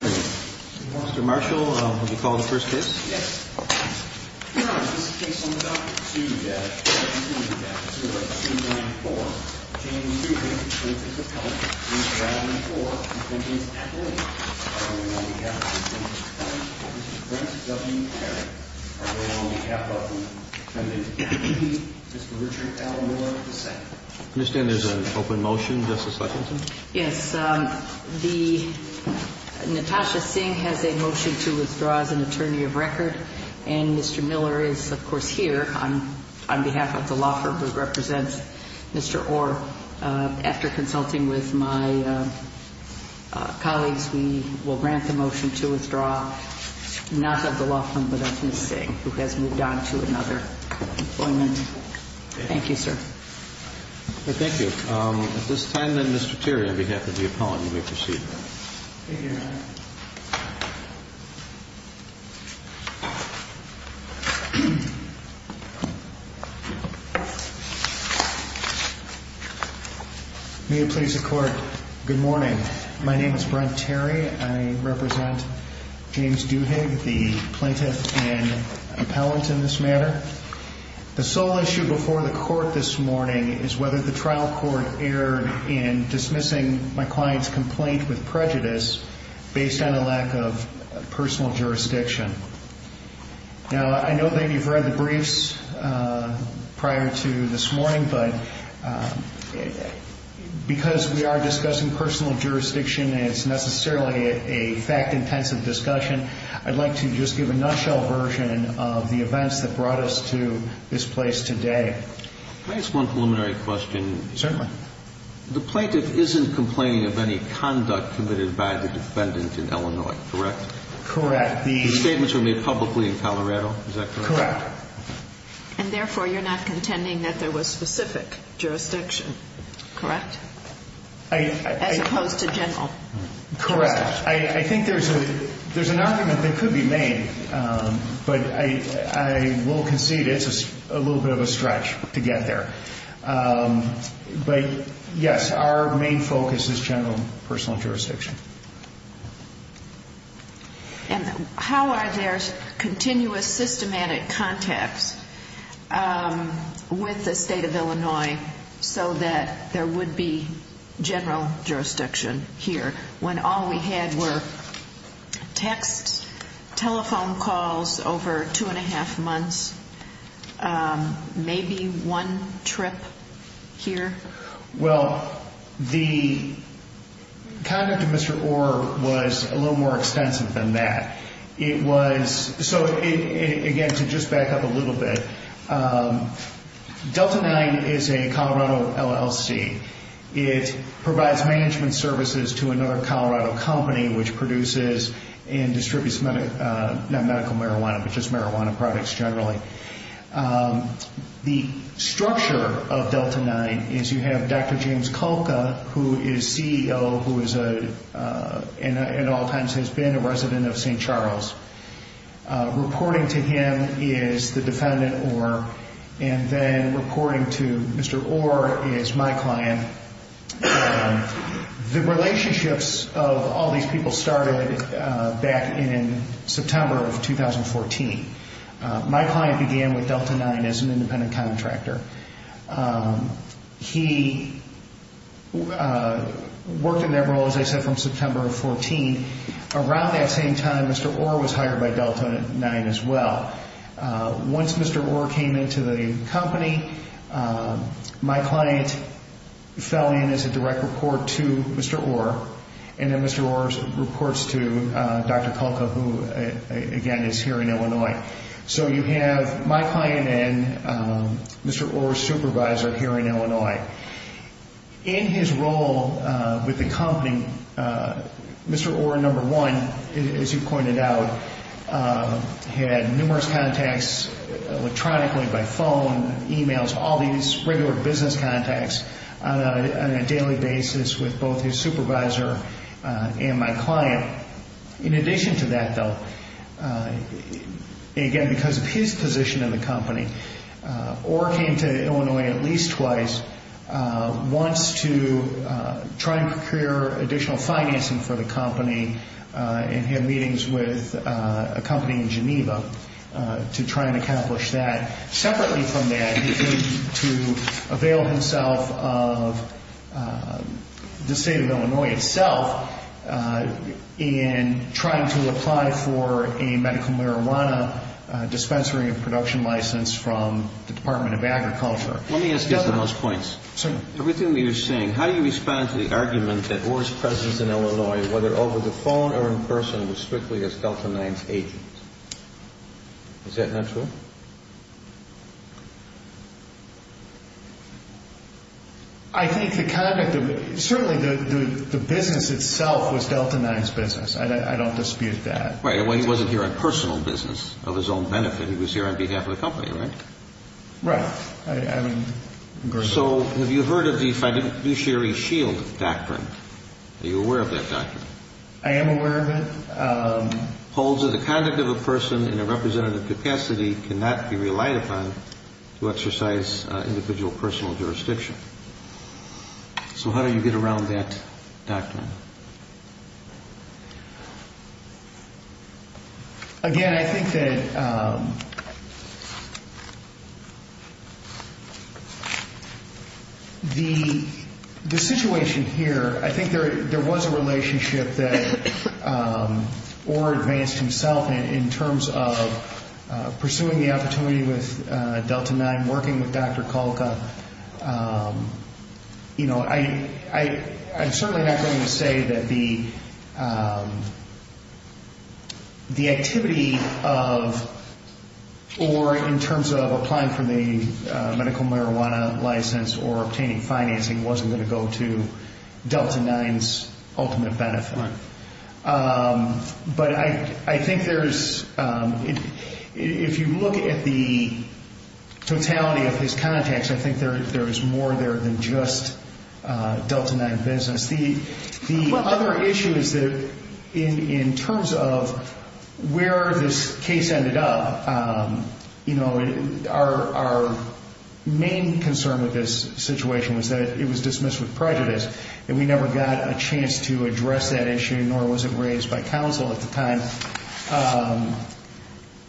Mr. Marshall, would you call the first case? Yes. Your Honor, this is case number 22-0294. James Duhig, the plaintiff's appellant. He is traveling for and is at the lane. On behalf of the plaintiff's family, Mr. Brent W. Perry. On behalf of the defendant's family, Mr. Richard L. Moore II. I understand there's an open motion, Justice Hutchinson? Yes. The Natasha Singh has a motion to withdraw as an attorney of record. And Mr. Miller is, of course, here on behalf of the law firm who represents Mr. Orr. After consulting with my colleagues, we will grant the motion to withdraw. Not of the law firm, but of Ms. Singh, who has moved on to another employment. Thank you, sir. Thank you. At this time, then, Mr. Terry, on behalf of the appellant, you may proceed. Thank you, Your Honor. May it please the Court, good morning. My name is Brent Terry. I represent James Duhig, the plaintiff and appellant in this matter. The sole issue before the Court this morning is whether the trial court erred in dismissing my client's complaint with prejudice based on a lack of personal jurisdiction. Now, I know that you've read the briefs prior to this morning, but because we are discussing personal jurisdiction and it's necessarily a fact-intensive discussion, I'd like to just give a nutshell version of the events that brought us to this place today. May I ask one preliminary question? Certainly. The plaintiff isn't complaining of any conduct committed by the defendant in Illinois, correct? Correct. The statements were made publicly in Colorado, is that correct? Correct. And therefore, you're not contending that there was specific jurisdiction, correct? As opposed to general. Correct. I think there's an argument that could be made, but I will concede it's a little bit of a stretch to get there. But, yes, our main focus is general personal jurisdiction. And how are there continuous systematic contacts with the State of Illinois so that there would be general jurisdiction here when all we had were text, telephone calls over two and a half months, maybe one trip here? Well, the conduct of Mr. Orr was a little more extensive than that. So, again, to just back up a little bit, Delta 9 is a Colorado LLC. It provides management services to another Colorado company, which produces and distributes not medical marijuana, but just marijuana products generally. The structure of Delta 9 is you have Dr. James Kolka, who is CEO, who at all times has been a resident of St. Charles. Reporting to him is the defendant, Orr, and then reporting to Mr. Orr is my client. The relationships of all these people started back in September of 2014. My client began with Delta 9 as an independent contractor. He worked in that role, as I said, from September of 2014. Around that same time, Mr. Orr was hired by Delta 9 as well. Once Mr. Orr came into the company, my client fell in as a direct report to Mr. Orr, and then Mr. Orr reports to Dr. Kolka, who, again, is here in Illinois. So you have my client and Mr. Orr's supervisor here in Illinois. In his role with the company, Mr. Orr, number one, as you pointed out, had numerous contacts electronically by phone, emails, all these regular business contacts on a daily basis with both his supervisor and my client. In addition to that, though, again, because of his position in the company, Orr came to Illinois at least twice once to try and procure additional financing for the company and had meetings with a company in Geneva to try and accomplish that. Separately from that, he came to avail himself of the state of Illinois itself in trying to apply for a medical marijuana dispensary and production license from the Department of Agriculture. Let me ask you for those points. Everything that you're saying, how do you respond to the argument that Orr's presence in Illinois, whether over the phone or in person, was strictly as Delta 9's agent? Is that not true? I think the conduct of it, certainly the business itself was Delta 9's business. I don't dispute that. Right, well, he wasn't here on personal business of his own benefit. He was here on behalf of the company, right? Right. So have you heard of the fiduciary shield doctrine? Are you aware of that doctrine? I am aware of it. Holds that the conduct of a person in a representative capacity cannot be relied upon to exercise individual personal jurisdiction. So how do you get around that doctrine? Again, I think that the situation here, I think there was a relationship that Orr advanced himself in terms of pursuing the opportunity with Delta 9, working with Dr. Kolka. You know, I'm certainly not going to say that the activity of Orr in terms of applying for the medical marijuana license or obtaining financing wasn't going to go to Delta 9's ultimate benefit. Right. But I think there's, if you look at the totality of his contacts, I think there is more there than just Delta 9 business. The other issue is that in terms of where this case ended up, our main concern with this situation was that it was dismissed with prejudice and we never got a chance to address that issue, nor was it raised by counsel at the time.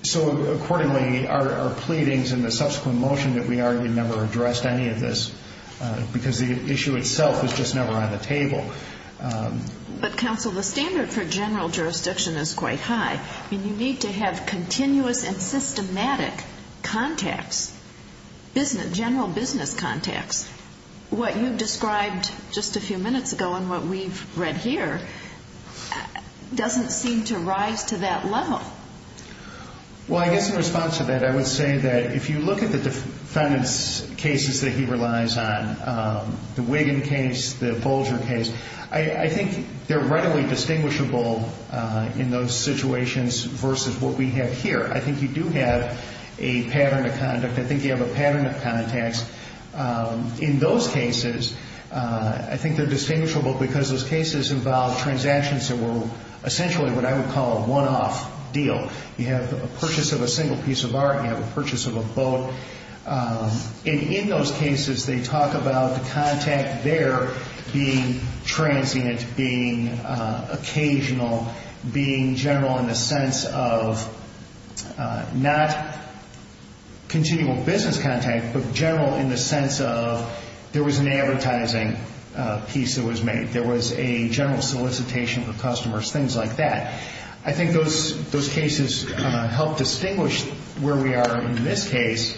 So accordingly, our pleadings and the subsequent motion that we argued never addressed any of this because the issue itself was just never on the table. But counsel, the standard for general jurisdiction is quite high. I mean, you need to have continuous and systematic contacts, general business contacts. What you described just a few minutes ago and what we've read here doesn't seem to rise to that level. Well, I guess in response to that, I would say that if you look at the defendants' cases that he relies on, the Wiggin case, the Bolger case, I think they're readily distinguishable in those situations versus what we have here. I think you do have a pattern of conduct. I think you have a pattern of contacts. In those cases, I think they're distinguishable because those cases involve transactions that were essentially what I would call a one-off deal. You have a purchase of a single piece of art. You have a purchase of a boat. And in those cases, they talk about the contact there being transient, being occasional, being general in the sense of not continual business contact, but general in the sense of there was an advertising piece that was made. There was a general solicitation for customers, things like that. I think those cases help distinguish where we are in this case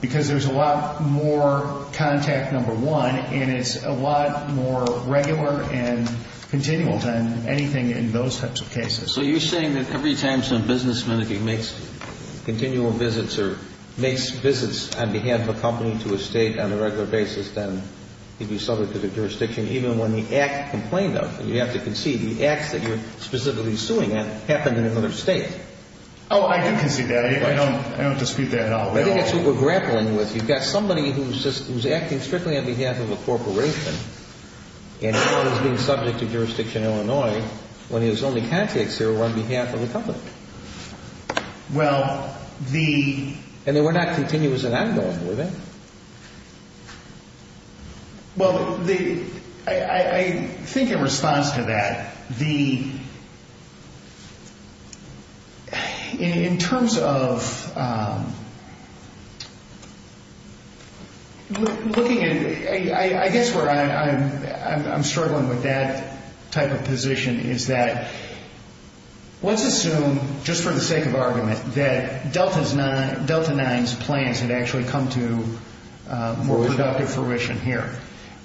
because there's a lot more contact, number one, and it's a lot more regular and continual than anything in those types of cases. So you're saying that every time some businessman, if he makes continual visits or makes visits on behalf of a company to a state on a regular basis, then he'd be subject to the jurisdiction, even when the act complained of. You have to concede. The acts that you're specifically suing happened in another state. Oh, I do concede that. I don't dispute that at all. I think that's what we're grappling with. You've got somebody who's acting strictly on behalf of a corporation and is being subject to jurisdiction in Illinois when his only contacts there were on behalf of a company. Well, the... And they were not continuous and ongoing, were they? Well, the... I think in response to that, the... In terms of looking at... I guess where I'm struggling with that type of position is that let's assume, just for the sake of argument, that Delta 9's plans had actually come to more productive fruition here.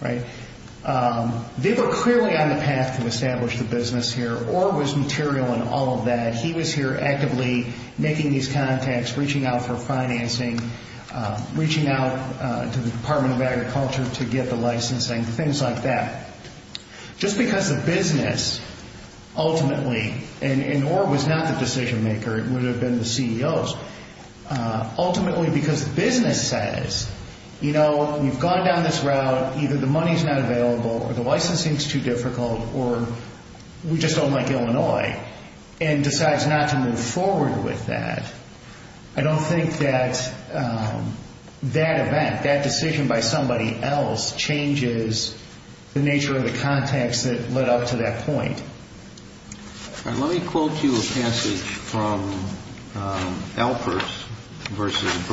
They were clearly on the path to establish the business here. Orr was material in all of that. He was here actively making these contacts, reaching out for financing, reaching out to the Department of Agriculture to get the licensing, things like that. Just because the business ultimately, and Orr was not the decision maker, it would have been the CEOs, ultimately because the business says, you know, we've gone down this route. Either the money's not available or the licensing's too difficult or we just don't like Illinois, and decides not to move forward with that. I don't think that that event, that decision by somebody else, changes the nature of the contacts that led up to that point. Let me quote you a passage from Alpers v.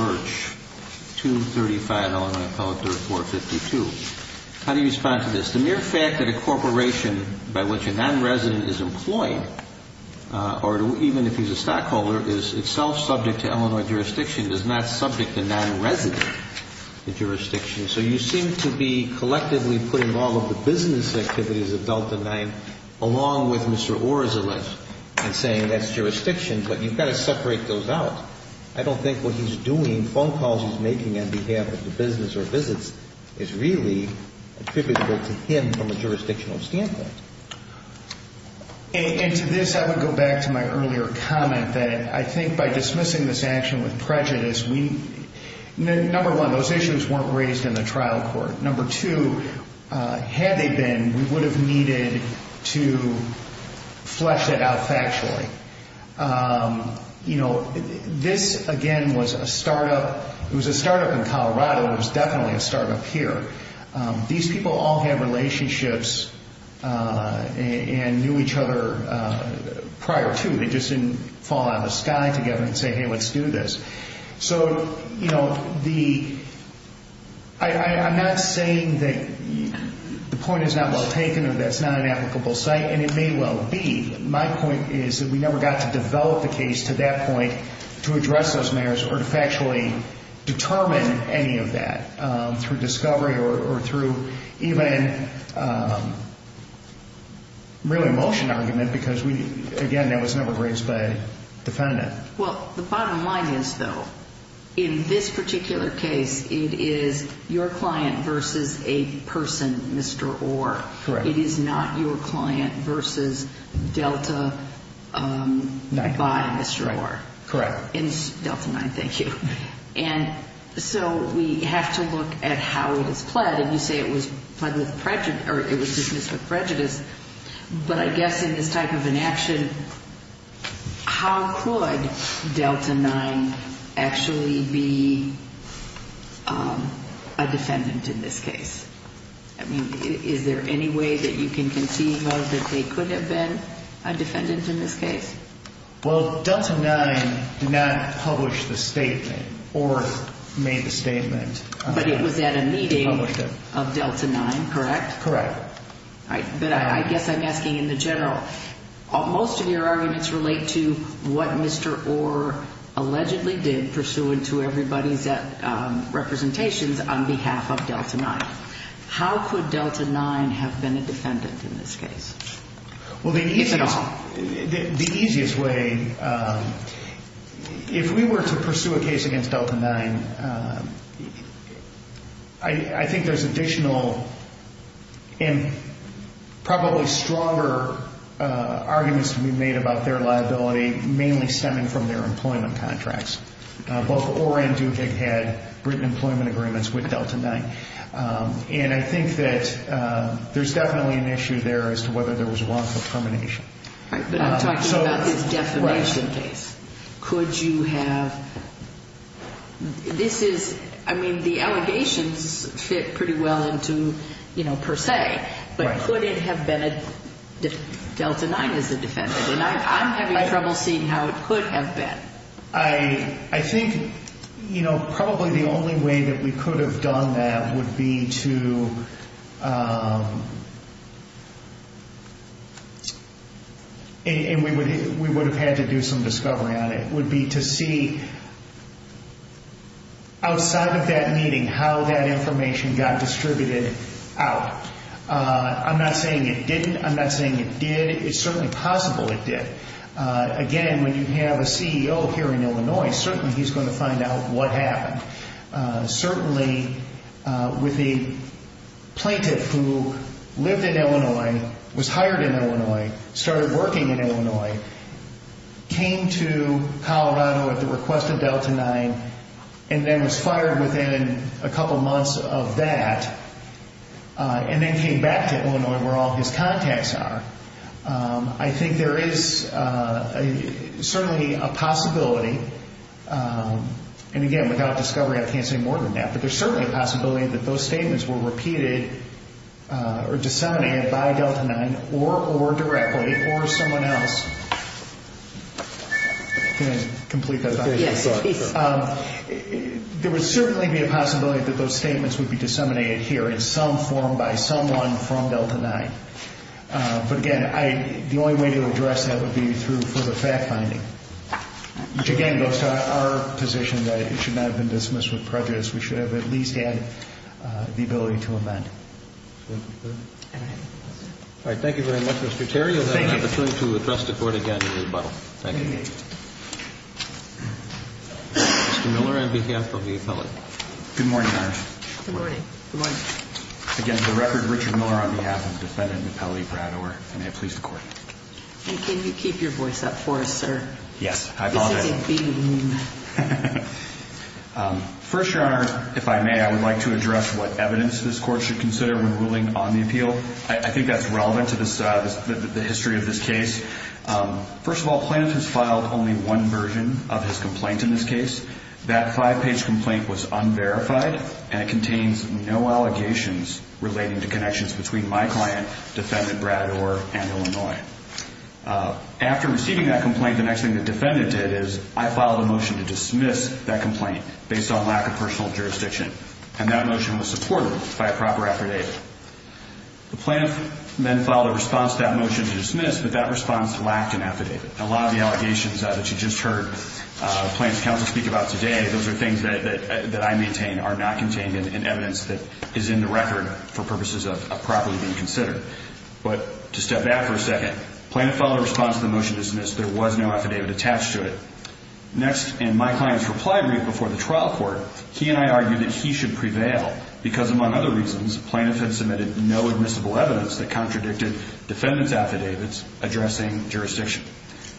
Birch, 235 Illinois Appellate 3452. How do you respond to this? The mere fact that a corporation by which a non-resident is employed, or even if he's a stockholder, is itself subject to Illinois jurisdiction does not subject the non-resident to jurisdiction. So you seem to be collectively putting all of the business activities of Delta 9 along with Mr. Orr's election and saying that's jurisdiction, but you've got to separate those out. I don't think what he's doing, phone calls he's making on behalf of the business or visits is really attributable to him from a jurisdictional standpoint. And to this, I would go back to my earlier comment that I think by dismissing this action with prejudice, number one, those issues weren't raised in the trial court. Number two, had they been, we would have needed to flesh it out factually. This, again, was a startup. It was a startup in Colorado. It was definitely a startup here. These people all have relationships and knew each other prior to. They just didn't fall out of the sky together and say, hey, let's do this. So, you know, I'm not saying that the point is not well taken or that it's not an applicable site, and it may well be. My point is that we never got to develop a case to that point to address those matters or to factually determine any of that through discovery or through even really a motion argument because, again, that was never raised by a defendant. Well, the bottom line is, though, in this particular case, it is your client versus a person, Mr. Orr. Correct. It is not your client versus Delta by Mr. Orr. Correct. Delta 9, thank you. And so we have to look at how it is pled, and you say it was pled with prejudice or it was dismissed with prejudice. But I guess in this type of an action, how could Delta 9 actually be a defendant in this case? I mean, is there any way that you can conceive of that they could have been a defendant in this case? Well, Delta 9 did not publish the statement or made the statement. But it was at a meeting of Delta 9, correct? Correct. But I guess I'm asking in the general, most of your arguments relate to what Mr. Orr allegedly did pursuant to everybody's representations on behalf of Delta 9. How could Delta 9 have been a defendant in this case? Well, the easiest way, if we were to pursue a case against Delta 9, I think there's additional and probably stronger arguments to be made about their liability, mainly stemming from their employment contracts. Both Orr and Dukick had written employment agreements with Delta 9. And I think that there's definitely an issue there as to whether there was a wrongful termination. But I'm talking about this definition case. Right. Could you have – this is – I mean, the allegations fit pretty well into, you know, per se. Right. But could it have been that Delta 9 is a defendant? And I'm having trouble seeing how it could have been. I think, you know, probably the only way that we could have done that would be to – and we would have had to do some discovery on it – would be to see outside of that meeting how that information got distributed out. I'm not saying it didn't. I'm not saying it did. It's certainly possible it did. Again, when you have a CEO here in Illinois, certainly he's going to find out what happened. Certainly with the plaintiff who lived in Illinois, was hired in Illinois, started working in Illinois, came to Colorado at the request of Delta 9 and then was fired within a couple months of that and then came back to Illinois where all his contacts are. I think there is certainly a possibility. And, again, without discovery, I can't say more than that. But there's certainly a possibility that those statements were repeated or disseminated by Delta 9 or directly or someone else. Can I complete that? Yes, please. There would certainly be a possibility that those statements would be disseminated here in some form by someone from Delta 9. But, again, the only way to address that would be through further fact-finding. Which, again, goes to our position that it should not have been dismissed with prejudice. We should have at least had the ability to amend. Thank you, sir. All right. All right. Thank you very much, Mr. Terry. Thank you. You'll have a chance to address the Court again in rebuttal. Thank you. Thank you. Mr. Miller on behalf of the appellate. Good morning, Your Honor. Good morning. Good morning. Again, for the record, Richard Miller on behalf of defendant appellate Brad Orr. And may it please the Court. And can you keep your voice up for us, sir? Yes, I apologize. This is a theme. First, Your Honor, if I may, I would like to address what evidence this Court should consider when ruling on the appeal. I think that's relevant to the history of this case. First of all, plaintiff has filed only one version of his complaint in this case. That five-page complaint was unverified, and it contains no allegations relating to connections between my client, defendant Brad Orr, and Illinois. After receiving that complaint, the next thing the defendant did is I filed a motion to dismiss that complaint based on lack of personal jurisdiction. And that motion was supported by a proper affidavit. The plaintiff then filed a response to that motion to dismiss, but that response lacked an affidavit. A lot of the allegations that you just heard plaintiff's counsel speak about today, those are things that I maintain are not contained in evidence that is in the record for purposes of properly being considered. But to step back for a second, plaintiff filed a response to the motion to dismiss. There was no affidavit attached to it. Next, in my client's reply brief before the trial court, he and I argued that he should prevail because, among other reasons, plaintiff had submitted no admissible evidence that contradicted defendant's affidavits addressing jurisdiction.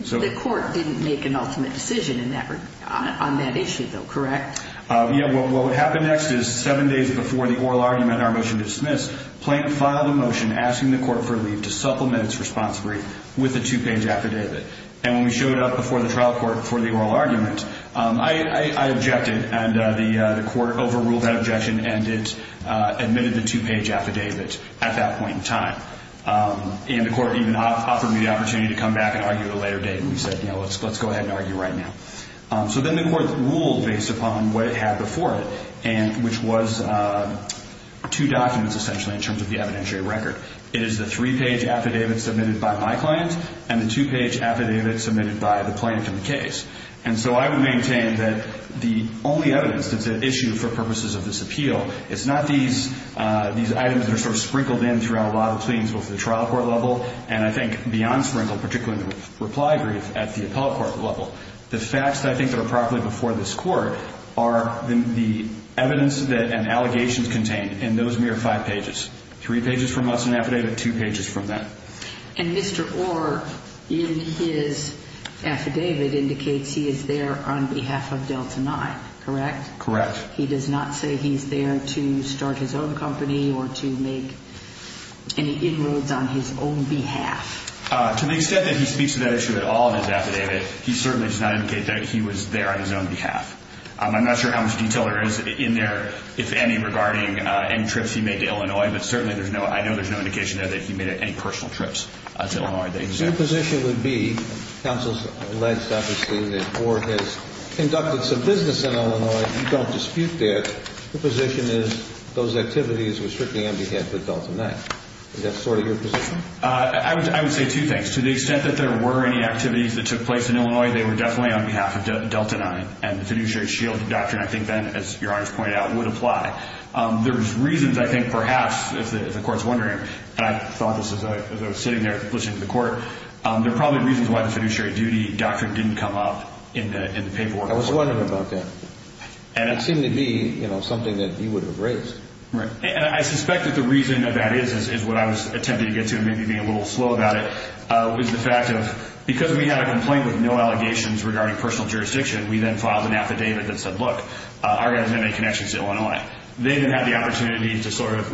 The court didn't make an ultimate decision on that issue, though, correct? Yeah, well, what happened next is seven days before the oral argument and our motion to dismiss, plaintiff filed a motion asking the court for leave to supplement its response brief with a two-page affidavit. And when we showed up before the trial court for the oral argument, I objected, and the court overruled that objection and it admitted the two-page affidavit at that point in time. And the court even offered me the opportunity to come back and argue at a later date, and we said, you know, let's go ahead and argue right now. So then the court ruled based upon what it had before it, which was two documents, essentially, in terms of the evidentiary record. It is the three-page affidavit submitted by my client and the two-page affidavit submitted by the plaintiff in the case. And so I would maintain that the only evidence that's at issue for purposes of this appeal, it's not these items that are sort of sprinkled in throughout a lot of the proceedings both at the trial court level and I think beyond sprinkle, particularly in the reply brief at the appellate court level. The facts I think that are properly before this court are the evidence and allegations contained in those mere five pages. Three pages from us in the affidavit, two pages from them. And Mr. Orr, in his affidavit, indicates he is there on behalf of Delta 9, correct? Correct. He does not say he's there to start his own company or to make any inroads on his own behalf? To the extent that he speaks to that issue at all in his affidavit, he certainly does not indicate that he was there on his own behalf. I'm not sure how much detail there is in there, if any, regarding any trips he made to Illinois, but certainly there's no – I know there's no indication there that he made any personal trips to Illinois. So your position would be, counsel alleges, obviously, that Orr has conducted some business in Illinois. You don't dispute that. Your position is those activities were strictly on behalf of Delta 9. Is that sort of your position? I would say two things. To the extent that there were any activities that took place in Illinois, they were definitely on behalf of Delta 9. And the fiduciary shield doctrine, I think, Ben, as Your Honor's pointed out, would apply. There's reasons, I think, perhaps, if the court's wondering, and I thought this as I was sitting there listening to the court, there are probably reasons why the fiduciary duty doctrine didn't come up in the paperwork. I was wondering about that. It seemed to be something that you would have raised. Right. And I suspect that the reason that that is is what I was attempting to get to and maybe being a little slow about it, was the fact of because we had a complaint with no allegations regarding personal jurisdiction, we then filed an affidavit that said, look, Orr doesn't have any connections to Illinois. They then had the opportunity to sort of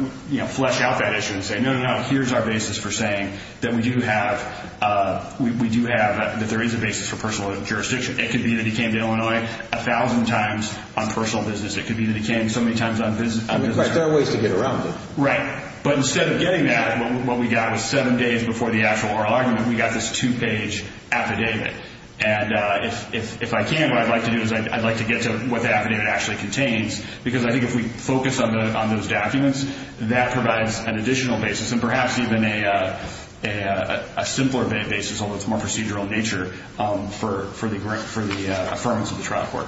flesh out that issue and say, no, no, no, here's our basis for saying that we do have, that there is a basis for personal jurisdiction. It could be that he came to Illinois a thousand times on personal business. It could be that he came so many times on business. There are ways to get around it. Right. But instead of getting that, what we got was seven days before the actual Orr argument, we got this two-page affidavit. And if I can, what I'd like to do is I'd like to get to what the affidavit actually contains because I think if we focus on those documents, that provides an additional basis and perhaps even a simpler basis, although it's more procedural in nature, for the affirmance of the trial court.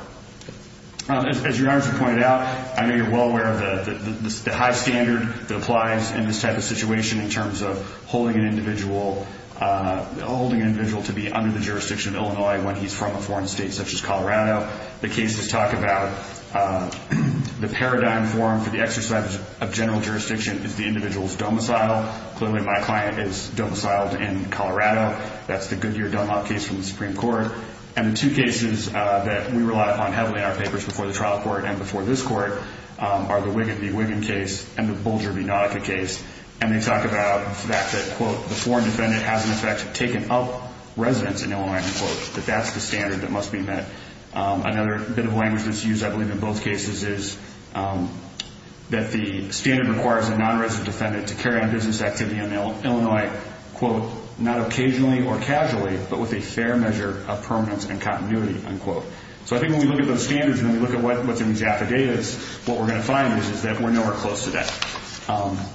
As your Honor has pointed out, I know you're well aware of the high standard that applies in this type of situation in terms of holding an individual to be under the jurisdiction of Illinois when he's from a foreign state such as Colorado. The cases talk about the paradigm form for the exercise of general jurisdiction is the individual's domicile. Clearly my client is domiciled in Colorado. That's the Goodyear Dunlop case from the Supreme Court. And the two cases that we rely upon heavily in our papers before the trial court and before this court are the Wiggin v. Wiggin case and the Bolger v. Nautica case. And they talk about the fact that, quote, the foreign defendant has in effect taken up residence in Illinois, unquote, that that's the standard that must be met. Another bit of language that's used, I believe, in both cases is that the standard requires a non-resident defendant to carry on business activity in Illinois, quote, not occasionally or casually, but with a fair measure of permanence and continuity, unquote. So I think when we look at those standards and we look at what's in these affidavits, what we're going to find is that we're nowhere close to that.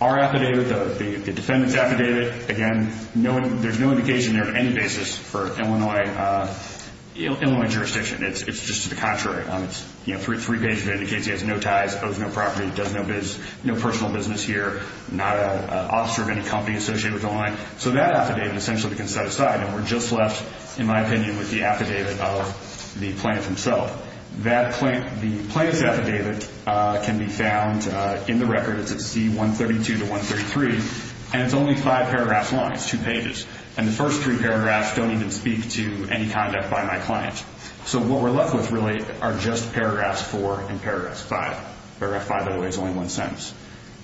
Our affidavit, the defendant's affidavit, again, there's no indication there of any basis for Illinois jurisdiction. It's just to the contrary. Three pages of it indicates he has no ties, owes no property, does no personal business here, not an officer of any company associated with Illinois. So that affidavit essentially we can set aside, and we're just left, in my opinion, with the affidavit of the plaintiff himself. The plaintiff's affidavit can be found in the records at C132 to 133, and it's only five paragraphs long. It's two pages. And the first three paragraphs don't even speak to any conduct by my client. So what we're left with really are just paragraphs four and paragraphs five. Paragraph five, by the way, is only one sentence.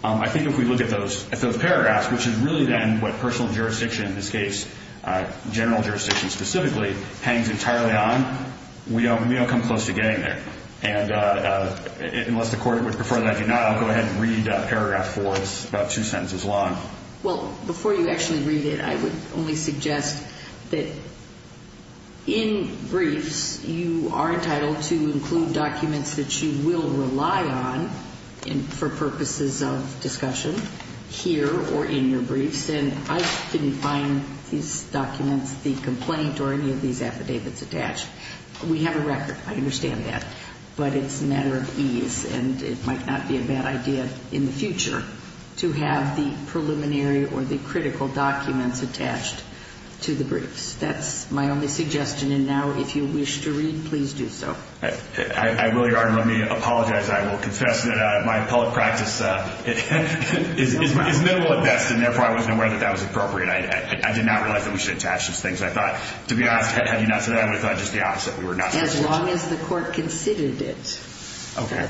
I think if we look at those paragraphs, which is really then what personal jurisdiction, in this case general jurisdiction specifically, hangs entirely on, we don't come close to getting there. And unless the court would prefer that I do not, I'll go ahead and read paragraph four. It's about two sentences long. Well, before you actually read it, I would only suggest that in briefs, you are entitled to include documents that you will rely on for purposes of discussion here or in your briefs, and I didn't find these documents, the complaint, or any of these affidavits attached. We have a record. I understand that. But it's a matter of ease, and it might not be a bad idea in the future to have the preliminary or the critical documents attached to the briefs. That's my only suggestion. And now, if you wish to read, please do so. I will, Your Honor. Let me apologize. I will confess that my public practice is minimal at best, and therefore I wasn't aware that that was appropriate. I did not realize that we should attach those things. I thought, to be honest, had you not said that, I would have thought just the opposite. As long as the court considered it. Okay.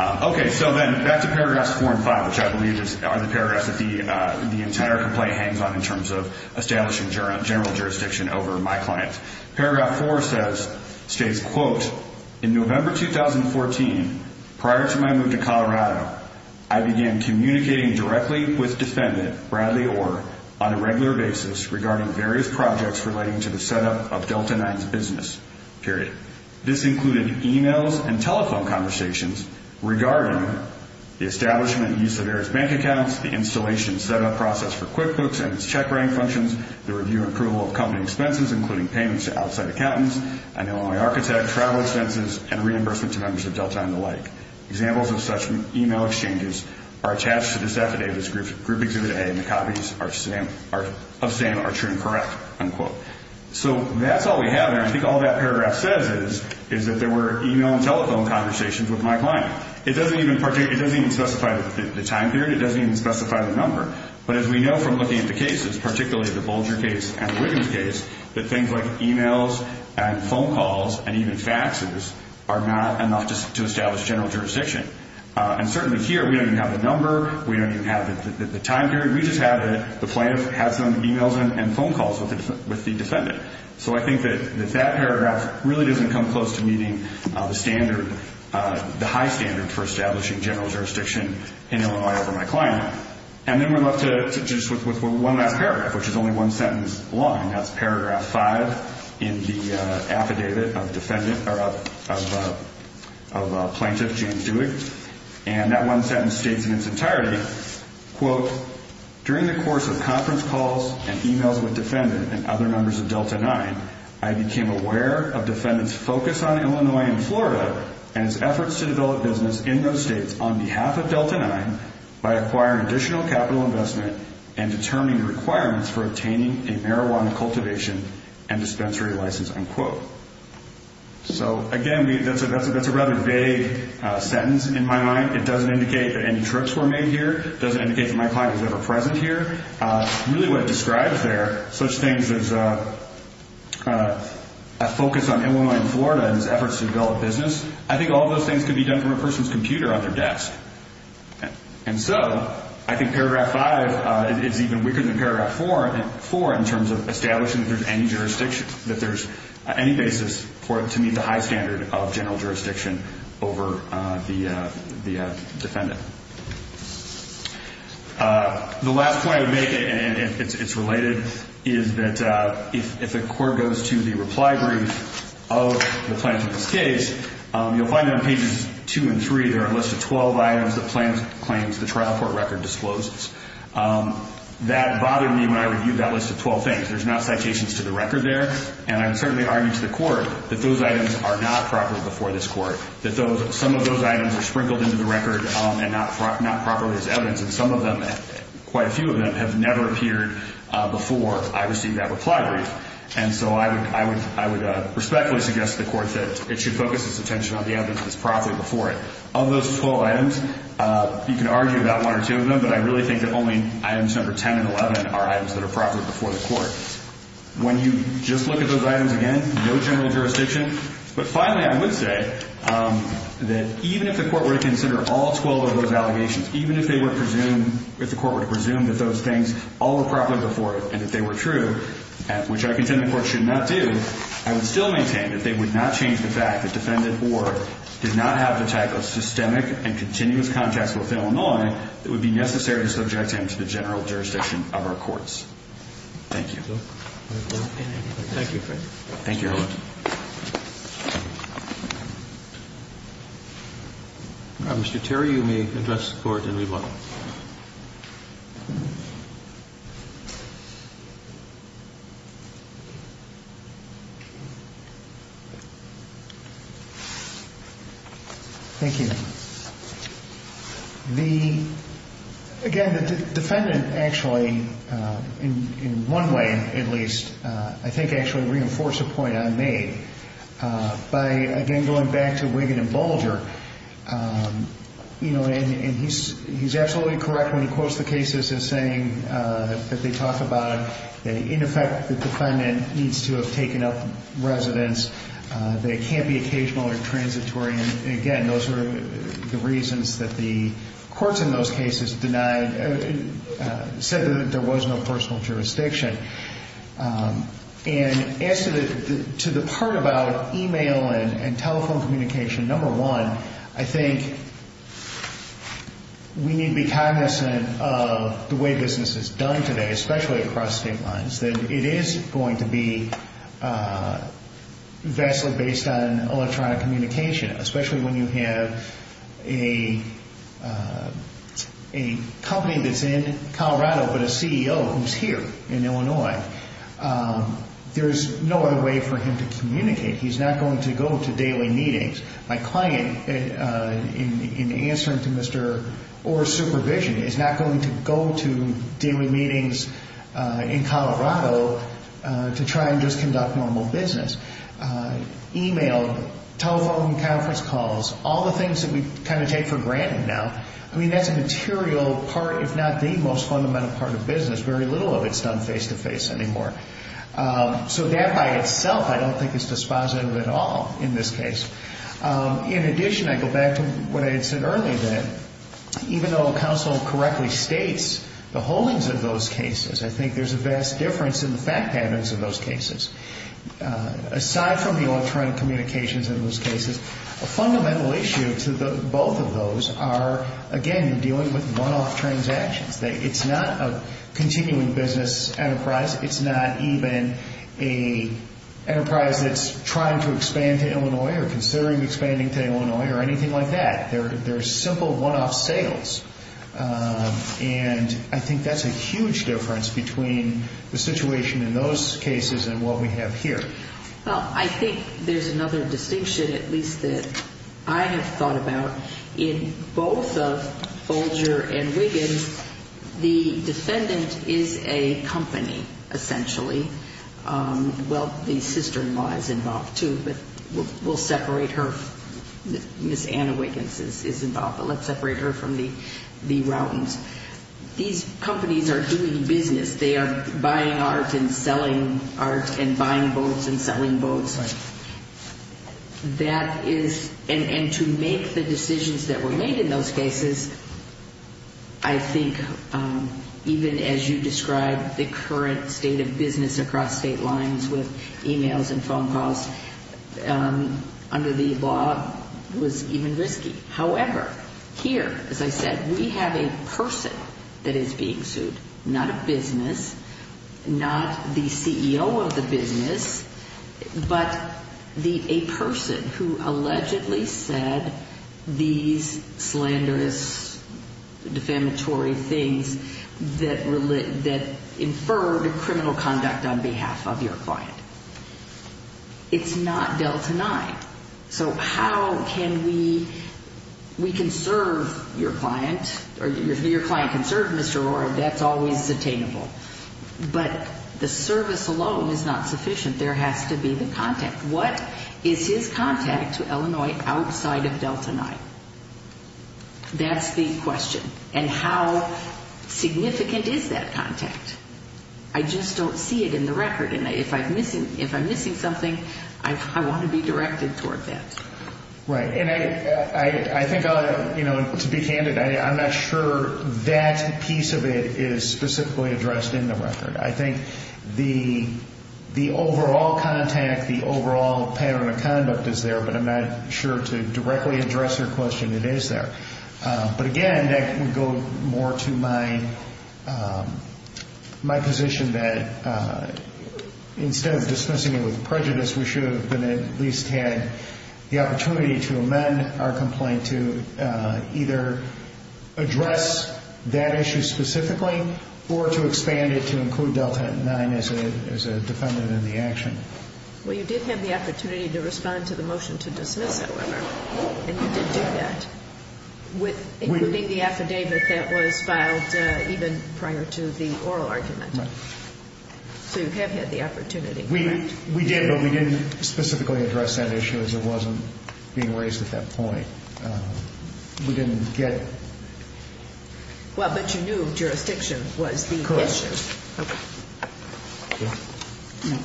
Okay, so then back to paragraphs four and five, which I believe are the paragraphs that the entire complaint hangs on in terms of establishing general jurisdiction over my client. Paragraph four states, quote, In November 2014, prior to my move to Colorado, I began communicating directly with Defendant Bradley Orr on a regular basis regarding various projects relating to the setup of Delta 9's business, period. This included emails and telephone conversations regarding the establishment and use of various bank accounts, the installation and setup process for QuickBooks and its check writing functions, the review and approval of company expenses, including payments to outside accountants, an Illinois architect, travel expenses, and reimbursement to members of Delta and the like. Examples of such email exchanges are attached to this affidavit, group exhibit A, and the copies of SAM are true and correct, unquote. So that's all we have there. I think all that paragraph says is that there were email and telephone conversations with my client. It doesn't even specify the time period. It doesn't even specify the number. But as we know from looking at the cases, particularly the Bolger case and the Wiggins case, that things like emails and phone calls and even faxes are not enough to establish general jurisdiction. And certainly here, we don't even have the number. We don't even have the time period. We just have the plaintiff has some emails and phone calls with the defendant. So I think that that paragraph really doesn't come close to meeting the standard, the high standard for establishing general jurisdiction in Illinois over my client. And then we're left just with one last paragraph, which is only one sentence long, and that's paragraph 5 in the affidavit of plaintiff James Dewey. And that one sentence states in its entirety, quote, during the course of conference calls and emails with defendant and other members of Delta 9, I became aware of defendant's focus on Illinois and Florida and its efforts to develop business in those states on behalf of Delta 9 by acquiring additional capital investment and determining requirements for obtaining a marijuana cultivation and dispensary license, unquote. So again, that's a rather vague sentence in my mind. It doesn't indicate that any trips were made here. It doesn't indicate that my client was ever present here. Really what it describes there, such things as a focus on Illinois and Florida and its efforts to develop business, I think all those things could be done from a person's computer on their desk. And so I think paragraph 5 is even weaker than paragraph 4 in terms of establishing that there's any jurisdiction, that there's any basis for it to meet the high standard of general jurisdiction over the defendant. The last point I would make, and it's related, is that if a court goes to the reply brief of the plaintiff in this case, you'll find on pages 2 and 3 there are a list of 12 items that plaintiff claims the trial court record discloses. That bothered me when I reviewed that list of 12 things. There's not citations to the record there. And I would certainly argue to the court that those items are not proper before this court, that some of those items are sprinkled into the record and not properly as evidence, and some of them, quite a few of them, have never appeared before I received that reply brief. And so I would respectfully suggest to the court that it should focus its attention on the evidence that's properly before it. Of those 12 items, you can argue about one or two of them, but I really think that only items number 10 and 11 are items that are properly before the court. When you just look at those items again, no general jurisdiction. But finally, I would say that even if the court were to consider all 12 of those allegations, even if the court were to presume that those things all were properly before it and that they were true, which I contend the court should not do, I would still maintain that they would not change the fact that defendant Orr did not have the type of systemic and continuous contacts with Illinois that would be necessary to subject him to the general jurisdiction of our courts. Thank you. Thank you. Thank you, Your Honor. Mr. Terry, you may address the court and rebuttal. Thank you. Again, the defendant actually, in one way at least, I think actually reinforced a point I made. By, again, going back to Wiggin and Bulger, and he's absolutely correct when he quotes the cases as saying that they talk about it, that in effect the defendant needs to have taken up residence, that it can't be occasional or transitory. Again, those were the reasons that the courts in those cases denied and said that there was no personal jurisdiction. And as to the part about e-mail and telephone communication, number one, I think we need to be cognizant of the way business is done today, especially across state lines, that it is going to be vastly based on electronic communication, especially when you have a company that's in Colorado but a CEO who's here in Illinois. There's no other way for him to communicate. He's not going to go to daily meetings. My client, in answering to Mr. Orr's supervision, is not going to go to daily meetings in Colorado to try and just conduct normal business. E-mail, telephone conference calls, all the things that we kind of take for granted now, I mean, that's a material part, if not the most fundamental part of business. Very little of it is done face-to-face anymore. So that by itself I don't think is dispositive at all in this case. In addition, I go back to what I had said earlier, that even though counsel correctly states the holdings of those cases, I think there's a vast difference in the fact patterns of those cases. Aside from the electronic communications in those cases, a fundamental issue to both of those are, again, dealing with one-off transactions. It's not a continuing business enterprise. It's not even an enterprise that's trying to expand to Illinois or considering expanding to Illinois or anything like that. They're simple one-off sales. And I think that's a huge difference between the situation in those cases and what we have here. Well, I think there's another distinction, at least that I have thought about. In both of Folger and Wiggins, the defendant is a company, essentially. Well, the sister-in-law is involved too, but we'll separate her. Ms. Anna Wiggins is involved, but let's separate her from the Routens. These companies are doing business. They are buying art and selling art and buying boats and selling boats. And to make the decisions that were made in those cases, I think even as you described, the current state of business across state lines with e-mails and phone calls under the law was even risky. However, here, as I said, we have a person that is being sued, not a business, not the CEO of the business, but a person who allegedly said these slanderous, defamatory things that inferred criminal conduct on behalf of your client. It's not Delta 9. So how can we conserve your client? Your client can serve Mr. O'Rourke. That's always attainable. But the service alone is not sufficient. There has to be the contact. What is his contact to Illinois outside of Delta 9? That's the question. And how significant is that contact? I just don't see it in the record. And if I'm missing something, I want to be directed toward that. Right. And I think to be candid, I'm not sure that piece of it is specifically addressed in the record. I think the overall contact, the overall pattern of conduct is there, but I'm not sure to directly address your question it is there. But, again, that would go more to my position that instead of dismissing it with prejudice, we should have at least had the opportunity to amend our complaint to either address that issue specifically or to expand it to include Delta 9 as a defendant in the action. Well, you did have the opportunity to respond to the motion to dismiss, however, and you did do that, including the affidavit that was filed even prior to the oral argument. Right. So you have had the opportunity. We did, but we didn't specifically address that issue as it wasn't being raised at that point. We didn't get. Well, but you knew jurisdiction was the issue. Correct. Okay. All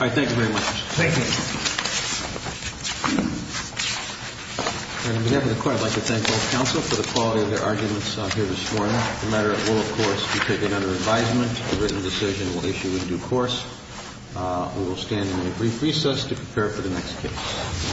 right. Thank you very much. Thank you. On behalf of the Court, I'd like to thank both counsel for the quality of their arguments here this morning. The matter will, of course, be taken under advisement. A written decision will issue in due course. We will stand in a brief recess to prepare for the next case.